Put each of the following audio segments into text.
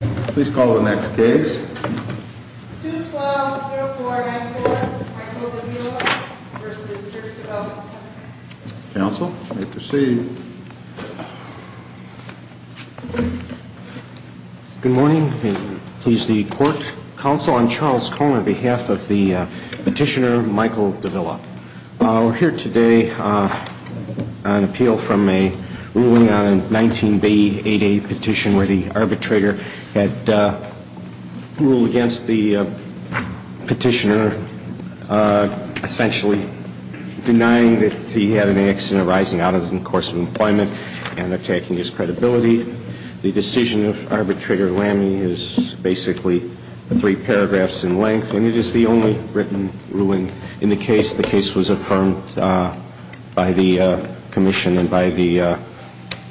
Please call the next case. 212-0494 Michael Davila v. Service Development Center Counsel, you may proceed. Good morning. Please the court. Counsel, I'm Charles Cohn on behalf of the petitioner Michael Davila. We're here today on appeal from a ruling on a 19b8a petition where the arbitrator had ruled against the petitioner, essentially denying that he had an accident arising out of the course of employment and attacking his credibility. The decision of arbitrator Lamy is basically three paragraphs in length, and it is the only written ruling in the case. The case was affirmed by the commission and by the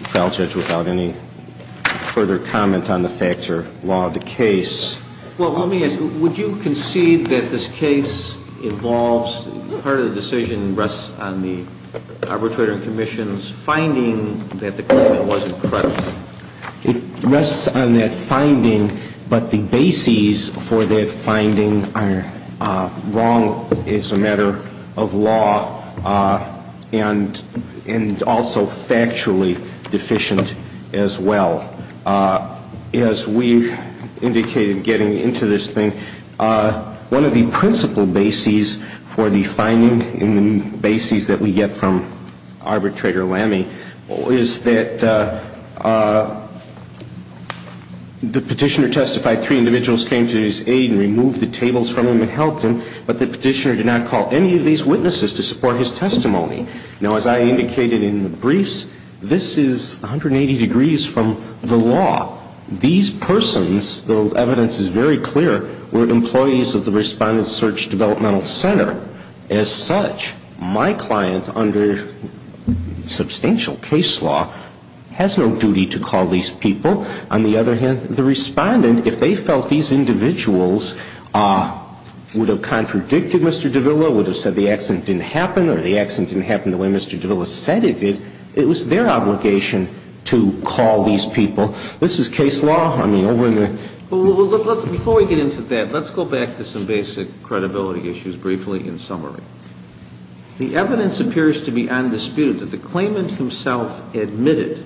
trial judge without any further comment on the facts or law of the case. Well, let me ask, would you concede that this case involves part of the decision rests on the arbitrator and commission's finding that the claimant wasn't credible? It rests on that finding, but the bases for that finding are wrong as a matter of law and also factually deficient as well. As we indicated getting into this thing, one of the principal bases for the finding in the bases that we get from arbitrator Lamy is that the petitioner testified three individuals came to his aid and removed the tables from him and helped him, but the petitioner did not call any of these witnesses to support his testimony. Now, as I indicated in the briefs, this is 180 degrees from the law. These persons, the evidence is very clear, were employees of the Respondent Search Developmental Center. As such, my client under substantial case law has no duty to call these people. On the other hand, the respondent, if they felt these individuals would have contradicted Mr. Davila, would have said the accident didn't happen or the accident didn't happen the way Mr. Davila said it did, it was their obligation to call these people. This is case law. I mean, over in the ---- Well, before we get into that, let's go back to some basic credibility issues briefly in summary. The evidence appears to be undisputed that the claimant himself admitted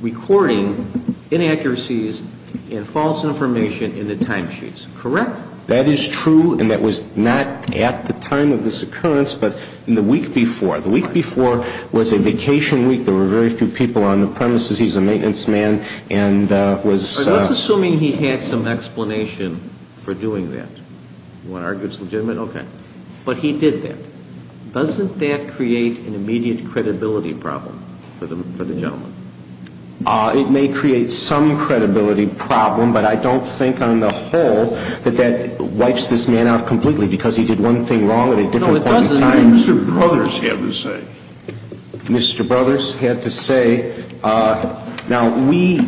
recording inaccuracies and false information in the timesheets. Correct? That is true, and that was not at the time of this occurrence, but in the week before. The week before was a vacation week. There were very few people on the premises. He's a maintenance man and was ---- Let's assume he had some explanation for doing that. You want to argue it's legitimate? Okay. But he did that. Doesn't that create an immediate credibility problem for the gentleman? It may create some credibility problem, but I don't think on the whole that that wipes this man out completely because he did one thing wrong at a different point in time. No, it doesn't. Mr. Brothers had to say. Mr. Brothers had to say. Now, we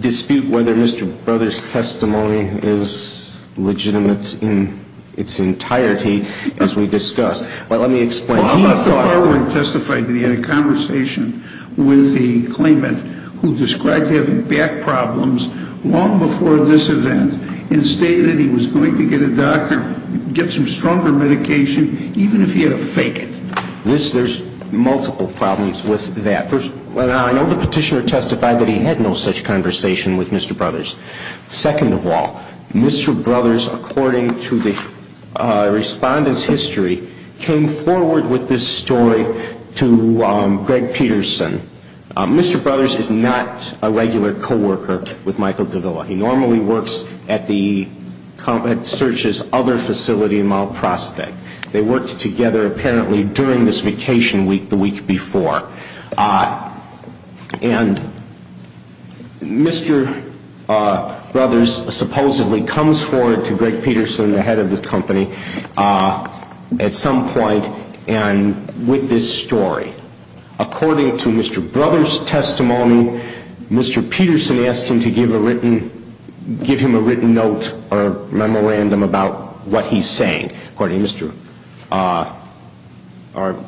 dispute whether Mr. Brothers' testimony is legitimate in its entirety as we discussed, but let me explain. He testified that he had a conversation with the claimant who described having back problems long before this event and stated he was going to get a doctor, get some stronger medication, even if he had to fake it. There's multiple problems with that. First, I know the petitioner testified that he had no such conversation with Mr. Brothers. Second of all, Mr. Brothers, according to the respondent's history, came forward with this story to Greg Peterson. Mr. Brothers is not a regular coworker with Michael Davila. He normally works at the search's other facility in Mount Prospect. They worked together apparently during this vacation week the week before. And Mr. Brothers supposedly comes forward to Greg Peterson, the head of the company, at some point with this story. According to Mr. Brothers' testimony, Mr. Peterson asked him to give him a written note or memorandum about what he's saying. According to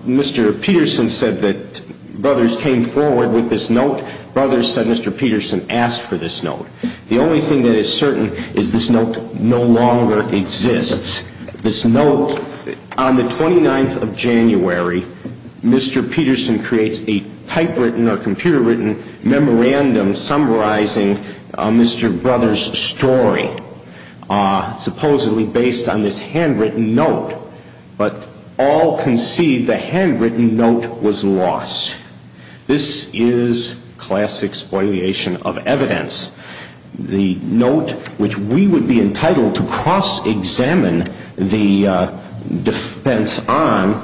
Mr. Peterson said that Brothers came forward with this note. Brothers said Mr. Peterson asked for this note. The only thing that is certain is this note no longer exists. This note, on the 29th of January, Mr. Peterson creates a typewritten or computer written memorandum summarizing Mr. Brothers' story. This memorandum summarizes Mr. Peterson's story. It's a typewritten note, supposedly based on this handwritten note. But all concede the handwritten note was lost. This is classic spoiliation of evidence. The note which we would be entitled to cross-examine the defense on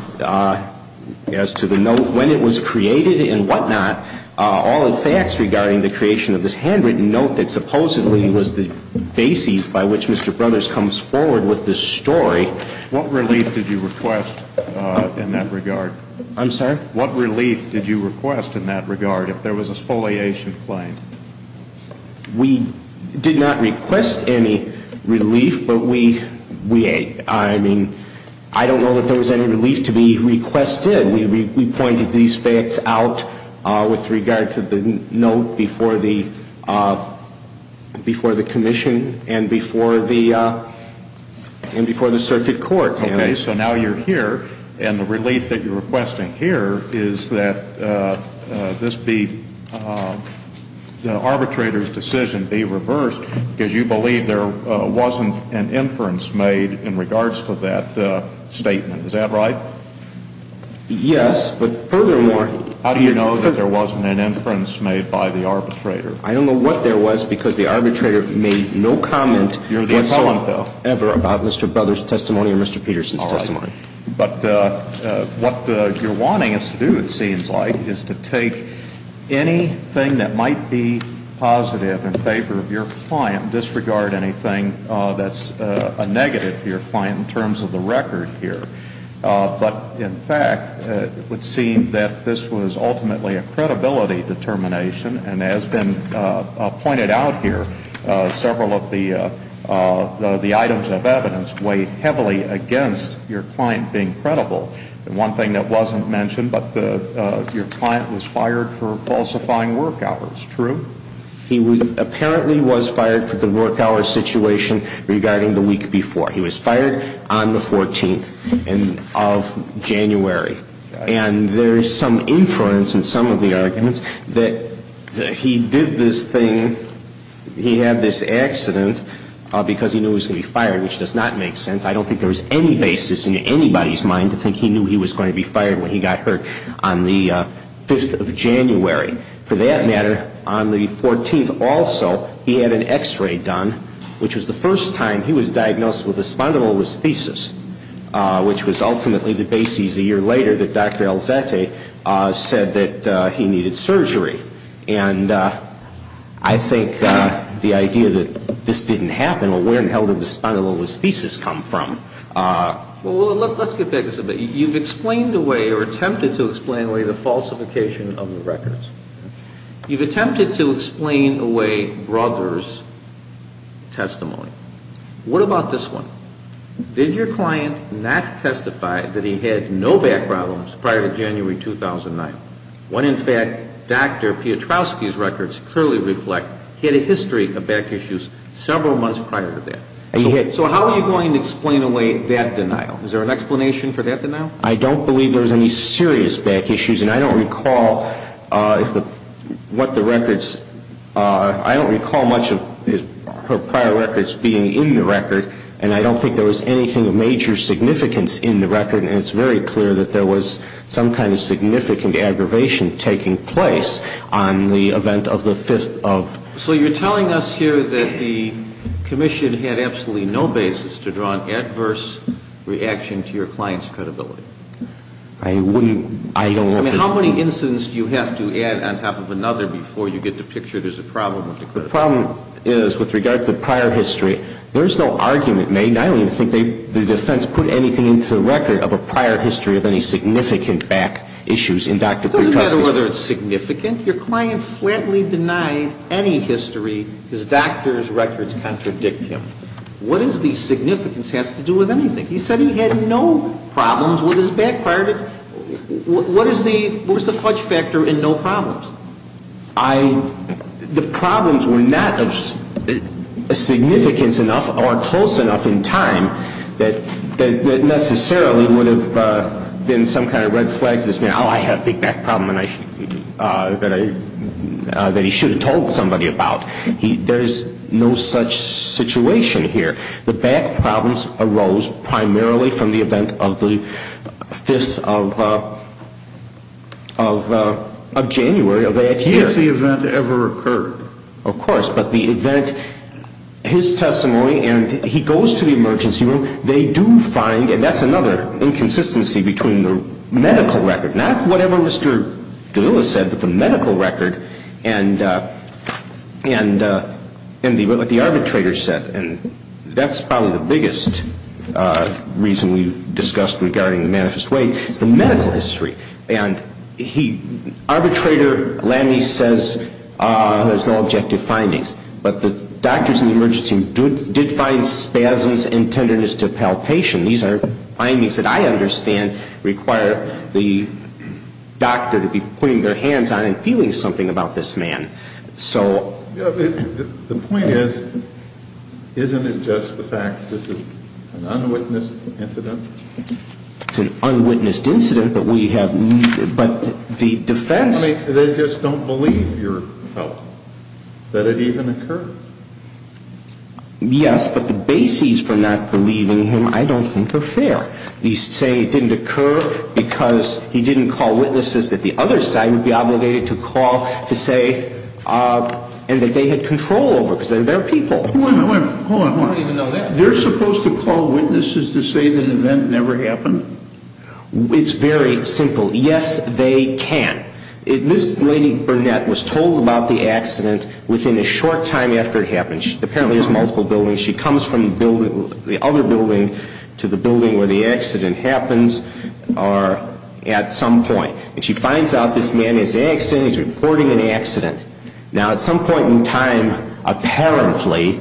as to the note when it was created and what not. All the facts regarding the creation of this handwritten note that supposedly was the basis by which Mr. Brothers comes forward with this story. What relief did you request in that regard? I'm sorry? What relief did you request in that regard if there was a spoliation claim? We did not request any relief, but we, I mean, I don't know that there was any relief to be requested. We pointed these facts out with regard to the note before the commission and before the circuit court. Okay, so now you're here and the relief that you're requesting here is that this be, the arbitrator's decision be reversed because you believe there wasn't an inference made in regards to that statement. Is that right? Yes, but furthermore. How do you know that there wasn't an inference made by the arbitrator? I don't know what there was because the arbitrator made no comment whatsoever about Mr. Brothers' testimony or Mr. Peterson's testimony. All right. But what you're wanting us to do, it seems like, is to take anything that might be positive in favor of your client, disregard anything that's a negative for your client in terms of the record here. This is a fairly general question, but in fact, it would seem that this was ultimately a credibility determination. And as has been pointed out here, several of the items of evidence weigh heavily against your client being credible. The one thing that wasn't mentioned, but your client was fired for falsifying work hours, true? He apparently was fired for the work hours situation regarding the week before. He was fired on the 14th of January. And there is some inference in some of the arguments that he did this thing, he had this accident because he knew he was going to be fired, which does not make sense. I don't think there was any basis in anybody's mind to think he knew he was going to be fired when he got hurt on the 5th of January. For that matter, on the 14th also, he had an x-ray done, which was the first time he was diagnosed with a spondylolisthesis, which was ultimately the basis a year later that Dr. Alzate said that he needed surgery. And I think the idea that this didn't happen, well, where in hell did the spondylolisthesis come from? Well, let's get back to something. You've explained away or attempted to explain away the falsification of the records. You've attempted to explain away Brother's testimony. What about this one? Did your client not testify that he had no back problems prior to January 2009, when in fact Dr. Piotrowski's records clearly reflect he had a history of back issues several months prior to that? So how are you going to explain away that denial? Is there an explanation for that denial? I don't believe there was any serious back issues, and I don't recall what the records – I don't recall much of her prior records being in the record, and I don't think there was anything of major significance in the record. And it's very clear that there was some kind of significant aggravation taking place on the event of the 5th of – So you're telling us here that the commission had absolutely no basis to draw an adverse reaction to your client's credibility? I wouldn't – I don't have to – I mean, how many incidents do you have to add on top of another before you get the picture there's a problem with the credibility? The problem is, with regard to the prior history, there's no argument made, and I don't even think the defense put anything into the record of a prior history of any significant back issues in Dr. Piotrowski's records. I think your client flatly denied any history. His doctor's records contradict him. What is the significance has to do with anything? He said he had no problems with his back prior to – what is the fudge factor in no problems? I – the problems were not of significance enough or close enough in time that necessarily would have been some kind of red flag to say, oh, I have a big back problem that I – that he should have told somebody about. There's no such situation here. The back problems arose primarily from the event of the 5th of January of that year. If the event ever occurred. Of course, but the event – his testimony, and he goes to the emergency room. They do find – and that's another inconsistency between the medical record, not whatever Mr. DeLilla said, but the medical record and what the arbitrator said. And that's probably the biggest reason we discussed regarding the manifest way, is the medical history. And he – arbitrator Lamme says there's no objective findings. But the doctors in the emergency room did find spasms and tenderness to palpation. These are findings that I understand require the doctor to be putting their hands on and feeling something about this man. So – The point is, isn't it just the fact that this is an unwitnessed incident? It's an unwitnessed incident, but we have – but the defense – They just don't believe your help, that it even occurred. Yes, but the bases for not believing him I don't think are fair. He's saying it didn't occur because he didn't call witnesses that the other side would be obligated to call to say – and that they had control over, because they're their people. Hold on, hold on, hold on. I don't even know that. They're supposed to call witnesses to say that an event never happened? It's very simple. Yes, they can. This lady Burnett was told about the accident within a short time after it happened. Apparently there's multiple buildings. She comes from the other building to the building where the accident happens at some point. And she finds out this man is accident, he's reporting an accident. Now, at some point in time, apparently,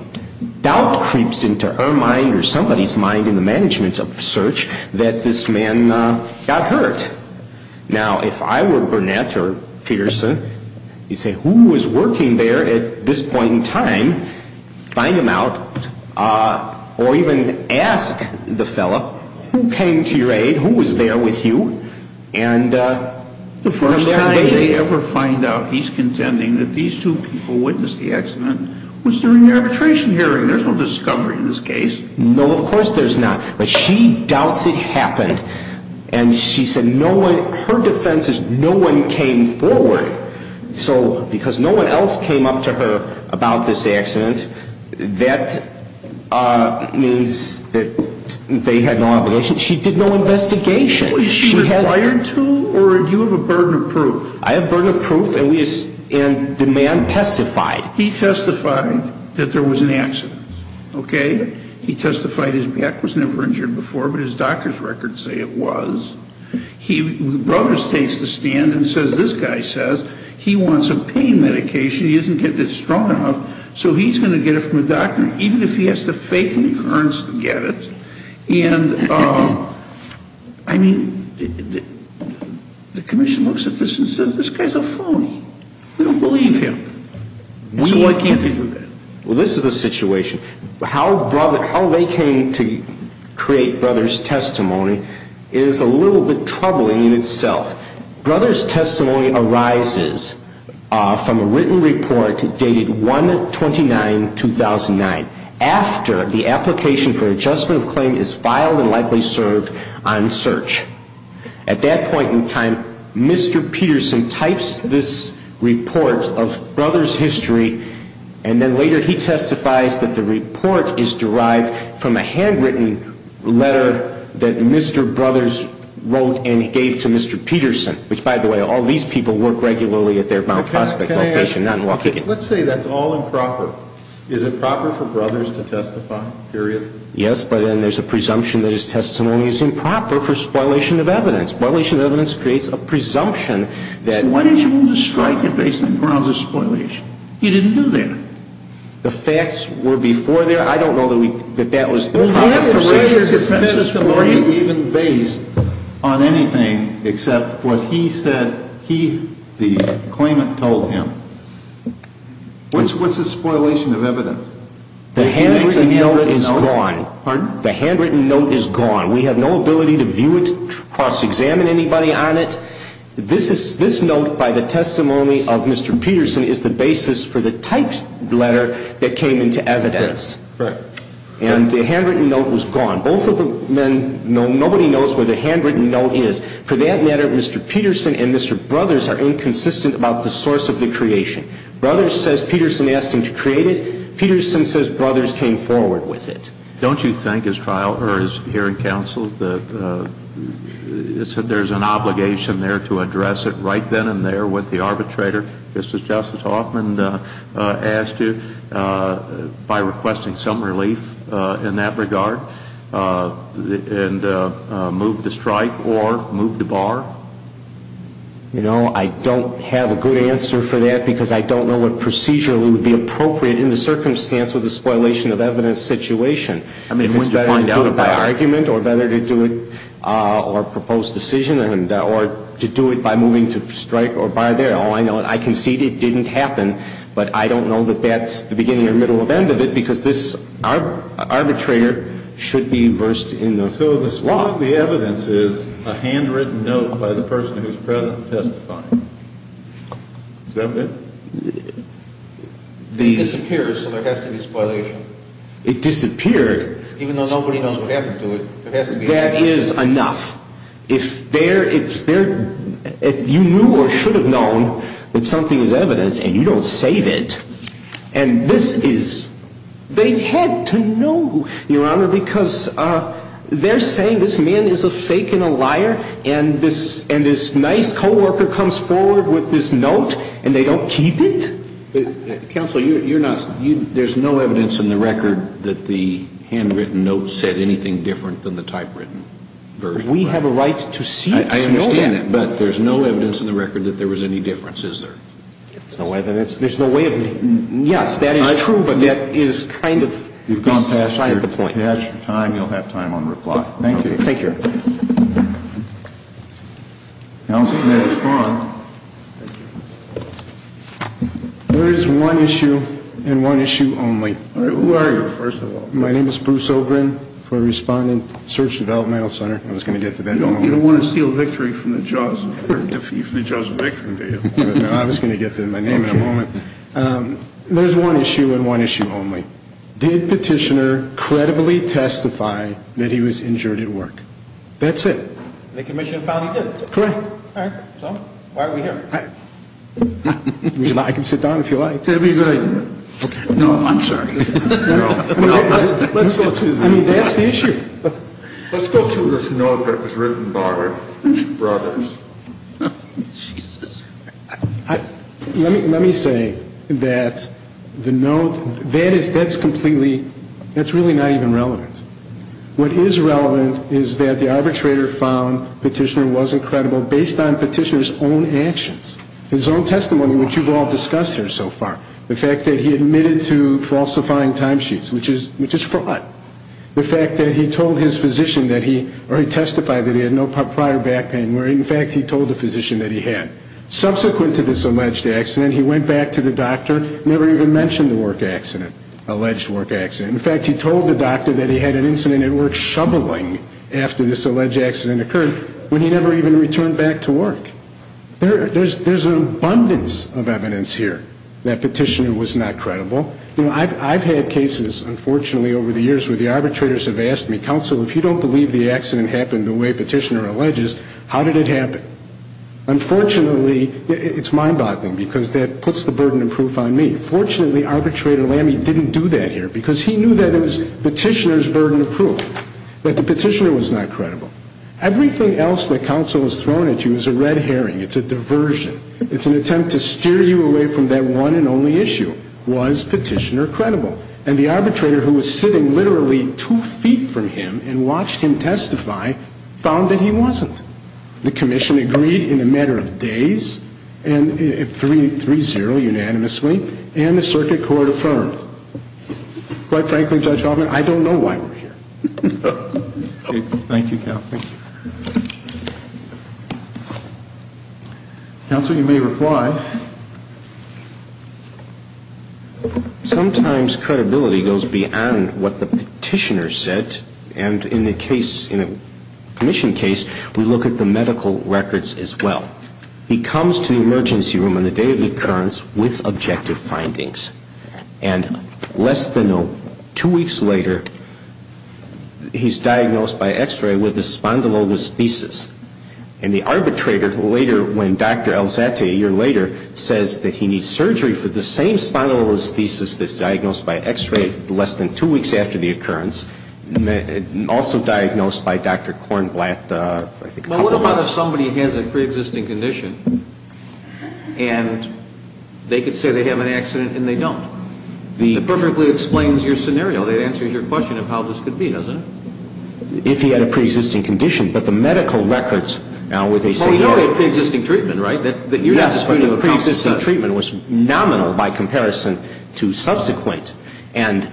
doubt creeps into her mind or somebody's mind in the management of search that this man got hurt. Now, if I were Burnett or Peterson, you'd say, who was working there at this point in time? Find him out. Or even ask the fellow, who came to your aid? Who was there with you? The first time they ever find out he's contending that these two people witnessed the accident was during the arbitration hearing. There's no discovery in this case. No, of course there's not. But she doubts it happened. And she said no one – her defense is no one came forward. So, because no one else came up to her about this accident, that means that they had no obligation. She did no investigation. Was she required to? Or do you have a burden of proof? I have burden of proof, and the man testified. He testified that there was an accident. Okay? He testified his back was never injured before, but his doctor's records say it was. Brothers takes the stand and says, this guy says he wants a pain medication, he isn't getting it strong enough, so he's going to get it from a doctor, even if he has to fake an occurrence to get it. And, I mean, the commission looks at this and says, this guy's a phony. We don't believe him. So why can't they do that? Well, this is the situation. How they came to create Brothers' testimony is a little bit troubling in itself. Brothers' testimony arises from a written report dated 1-29-2009. After the application for adjustment of claim is filed and likely served on search. At that point in time, Mr. Peterson types this report of Brothers' history, and then later he testifies that the report is derived from a handwritten letter that Mr. Brothers wrote and gave to Mr. Peterson, which, by the way, all these people work regularly at their Mount Prospect location. Let's say that's all improper. Is it proper for Brothers to testify, period? Yes, but then there's a presumption that his testimony is improper for spoilation of evidence. Spoilation of evidence creates a presumption that... So why did you want to strike him based on grounds of spoilation? He didn't do that. The facts were before that... I don't know that that was... Well, he has a written testimony even based on anything except what he said he, the claimant, told him. What's the spoilation of evidence? The handwritten note is gone. Pardon? The handwritten note is gone. We have no ability to view it, cross-examine anybody on it. This note by the testimony of Mr. Peterson is the basis for the typed letter that came into evidence. Right. And the handwritten note was gone. Both of the men, nobody knows where the handwritten note is. For that matter, Mr. Peterson and Mr. Brothers are inconsistent about the source of the creation. Brothers says Peterson asked him to create it. Peterson says Brothers came forward with it. Don't you think, as hearing counsel, that there's an obligation there to address it right then and there with the arbitrator, just as Justice Hoffman asked to, by requesting some relief in that regard, and move the strike or move the bar? You know, I don't have a good answer for that because I don't know what procedure would be appropriate in the circumstance with the spoilation of evidence situation. I mean, wouldn't you find out about it? If it's better to do it by argument or better to do it or propose decision or to do it by moving to strike or bar there. All I know, I concede it didn't happen. But I don't know that that's the beginning or middle of end of it because this arbitrator should be versed in the law. So the evidence is a handwritten note by the person who's present testifying. Is that it? It disappears, so there has to be spoilation. It disappeared. Even though nobody knows what happened to it. That is enough. If you knew or should have known that something is evidence and you don't save it, and this is, they had to know, Your Honor, because they're saying this man is a fake and a liar and this nice co-worker comes forward with this note and they don't keep it? Counsel, you're not, there's no evidence in the record that the handwritten note said anything different than the typewritten version. We have a right to see it. I understand that, but there's no evidence in the record that there was any difference, is there? There's no evidence. There's no way of knowing. Yes, that is true, but that is kind of beside the point. You've gone past your time. You'll have time on reply. Thank you. Thank you, Your Honor. Counsel, may I respond? Thank you. There is one issue and one issue only. Who are you, first of all? My name is Bruce Obrin for Respondent Search and Development Health Center. I was going to get to that. You don't want to steal victory from the jaws of victory, do you? No, I was going to get to my name in a moment. There's one issue and one issue only. Did Petitioner credibly testify that he was injured at work? That's it. The Commission found he did. Correct. All right. So why are we here? I can sit down if you like. That would be a good idea. No, I'm sorry. Let's go to this. I mean, that's the issue. Let's go to this note that was written by Roberts. Jesus. Let me say that the note, that is completely, that's really not even relevant. What is relevant is that the arbitrator found Petitioner wasn't credible based on Petitioner's own actions, his own testimony, which you've all discussed here so far. The fact that he admitted to falsifying timesheets, which is fraud. The fact that he told his physician that he, or he testified that he had no prior back pain, where, in fact, he told the physician that he had. Subsequent to this alleged accident, he went back to the doctor, never even mentioned the work accident, alleged work accident. In fact, he told the doctor that he had an incident at work shoveling after this alleged accident occurred, when he never even returned back to work. There's an abundance of evidence here that Petitioner was not credible. You know, I've had cases, unfortunately, over the years where the arbitrators have asked me, counsel, if you don't believe the accident happened the way Petitioner alleges, how did it happen? Unfortunately, it's mind-boggling because that puts the burden of proof on me. Fortunately, Arbitrator Lamme didn't do that here because he knew that it was Petitioner's burden of proof, that the Petitioner was not credible. Everything else that counsel has thrown at you is a red herring. It's a diversion. It's an attempt to steer you away from that one and only issue. Was Petitioner credible? And the arbitrator who was sitting literally two feet from him and watched him testify found that he wasn't. The commission agreed in a matter of days, 3-0 unanimously, and the circuit court affirmed. Quite frankly, Judge Hoffman, I don't know why we're here. Thank you, counsel. Counsel, you may reply. Sometimes credibility goes beyond what the Petitioner said. And in a case, in a commission case, we look at the medical records as well. He comes to the emergency room on the day of the occurrence with objective findings. And less than two weeks later, he's diagnosed by x-ray with a spondylolisthesis. And the arbitrator, later, when Dr. Alzate, a year later, says that he needs surgery for the same spondylolisthesis that's diagnosed by x-ray less than two weeks after the occurrence, also diagnosed by Dr. Kornblatt, I think, a couple of months. Well, suppose somebody has a preexisting condition and they could say they have an accident and they don't. It perfectly explains your scenario. It answers your question of how this could be, doesn't it? If he had a preexisting condition, but the medical records now would say no. Well, we know he had preexisting treatment, right? Yes, but the preexisting treatment was nominal by comparison to subsequent. And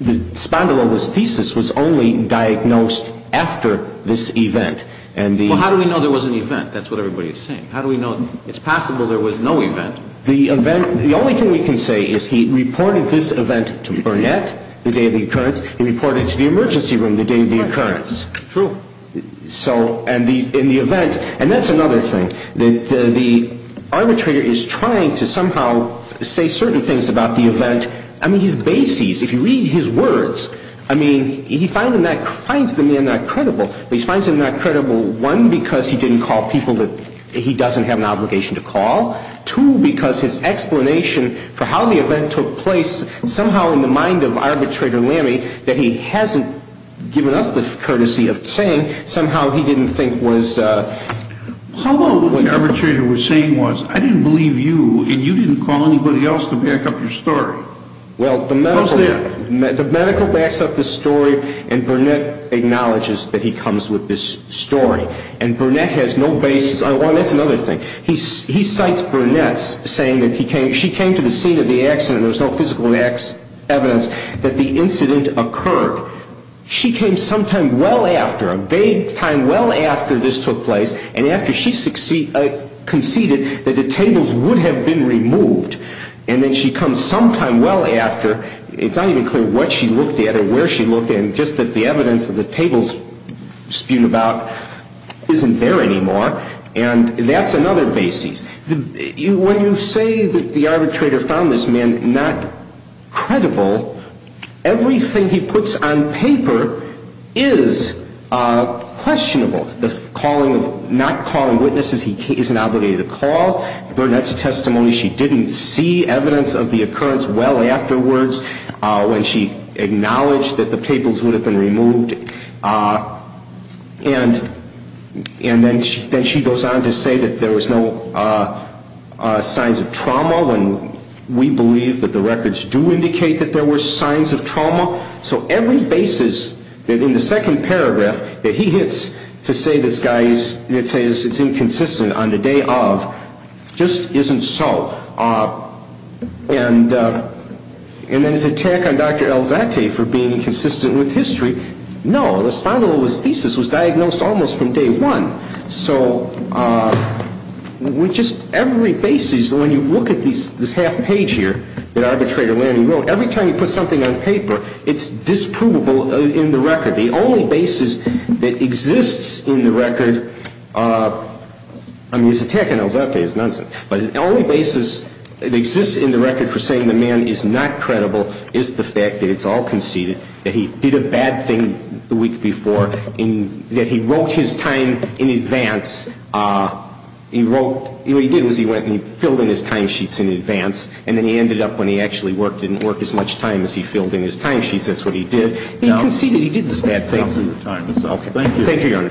the spondylolisthesis was only diagnosed after this event. Well, how do we know there was an event? That's what everybody is saying. How do we know it's possible there was no event? The only thing we can say is he reported this event to Burnett the day of the occurrence. He reported it to the emergency room the day of the occurrence. True. And that's another thing. The arbitrator is trying to somehow say certain things about the event. I mean, he's basey. If you read his words, I mean, he finds the man not credible. He finds him not credible, one, because he didn't call people that he doesn't have an obligation to call, two, because his explanation for how the event took place, somehow in the mind of Arbitrator Lammey that he hasn't given us the courtesy of saying, somehow he didn't think was... How about what the arbitrator was saying was, I didn't believe you and you didn't call anybody else to back up your story? Well, the medical... How's that? And Burnett acknowledges that he comes with this story. And Burnett has no basis. That's another thing. He cites Burnett saying that she came to the scene of the accident. There was no physical evidence that the incident occurred. She came sometime well after, a daytime well after this took place, and after she conceded that the tables would have been removed. And then she comes sometime well after. It's not even clear what she looked at or where she looked at, just that the evidence that the tables spewed about isn't there anymore. And that's another basis. When you say that the arbitrator found this man not credible, everything he puts on paper is questionable. The calling of not calling witnesses he isn't obligated to call, Burnett's testimony, she didn't see evidence of the occurrence well afterwards when she acknowledged that the tables would have been removed. And then she goes on to say that there was no signs of trauma when we believe that the records do indicate that there were signs of trauma. So every basis that in the second paragraph that he hits to say this guy is, that he says it's inconsistent on the day of just isn't so. And then his attack on Dr. Alzate for being inconsistent with history, no. The spondylolisthesis was diagnosed almost from day one. So with just every basis, when you look at this half page here that Arbitrator Lanning wrote, every time you put something on paper, it's disprovable in the record. The only basis that exists in the record, I mean his attack on Alzate is nonsense, but the only basis that exists in the record for saying the man is not credible is the fact that it's all conceded, that he did a bad thing the week before, and that he wrote his time in advance. He wrote, what he did was he went and he filled in his timesheets in advance, and then he ended up when he actually worked, didn't work as much time as he filled in his timesheets, that's what he did. He conceded. He did this bad thing. Thank you, Your Honor.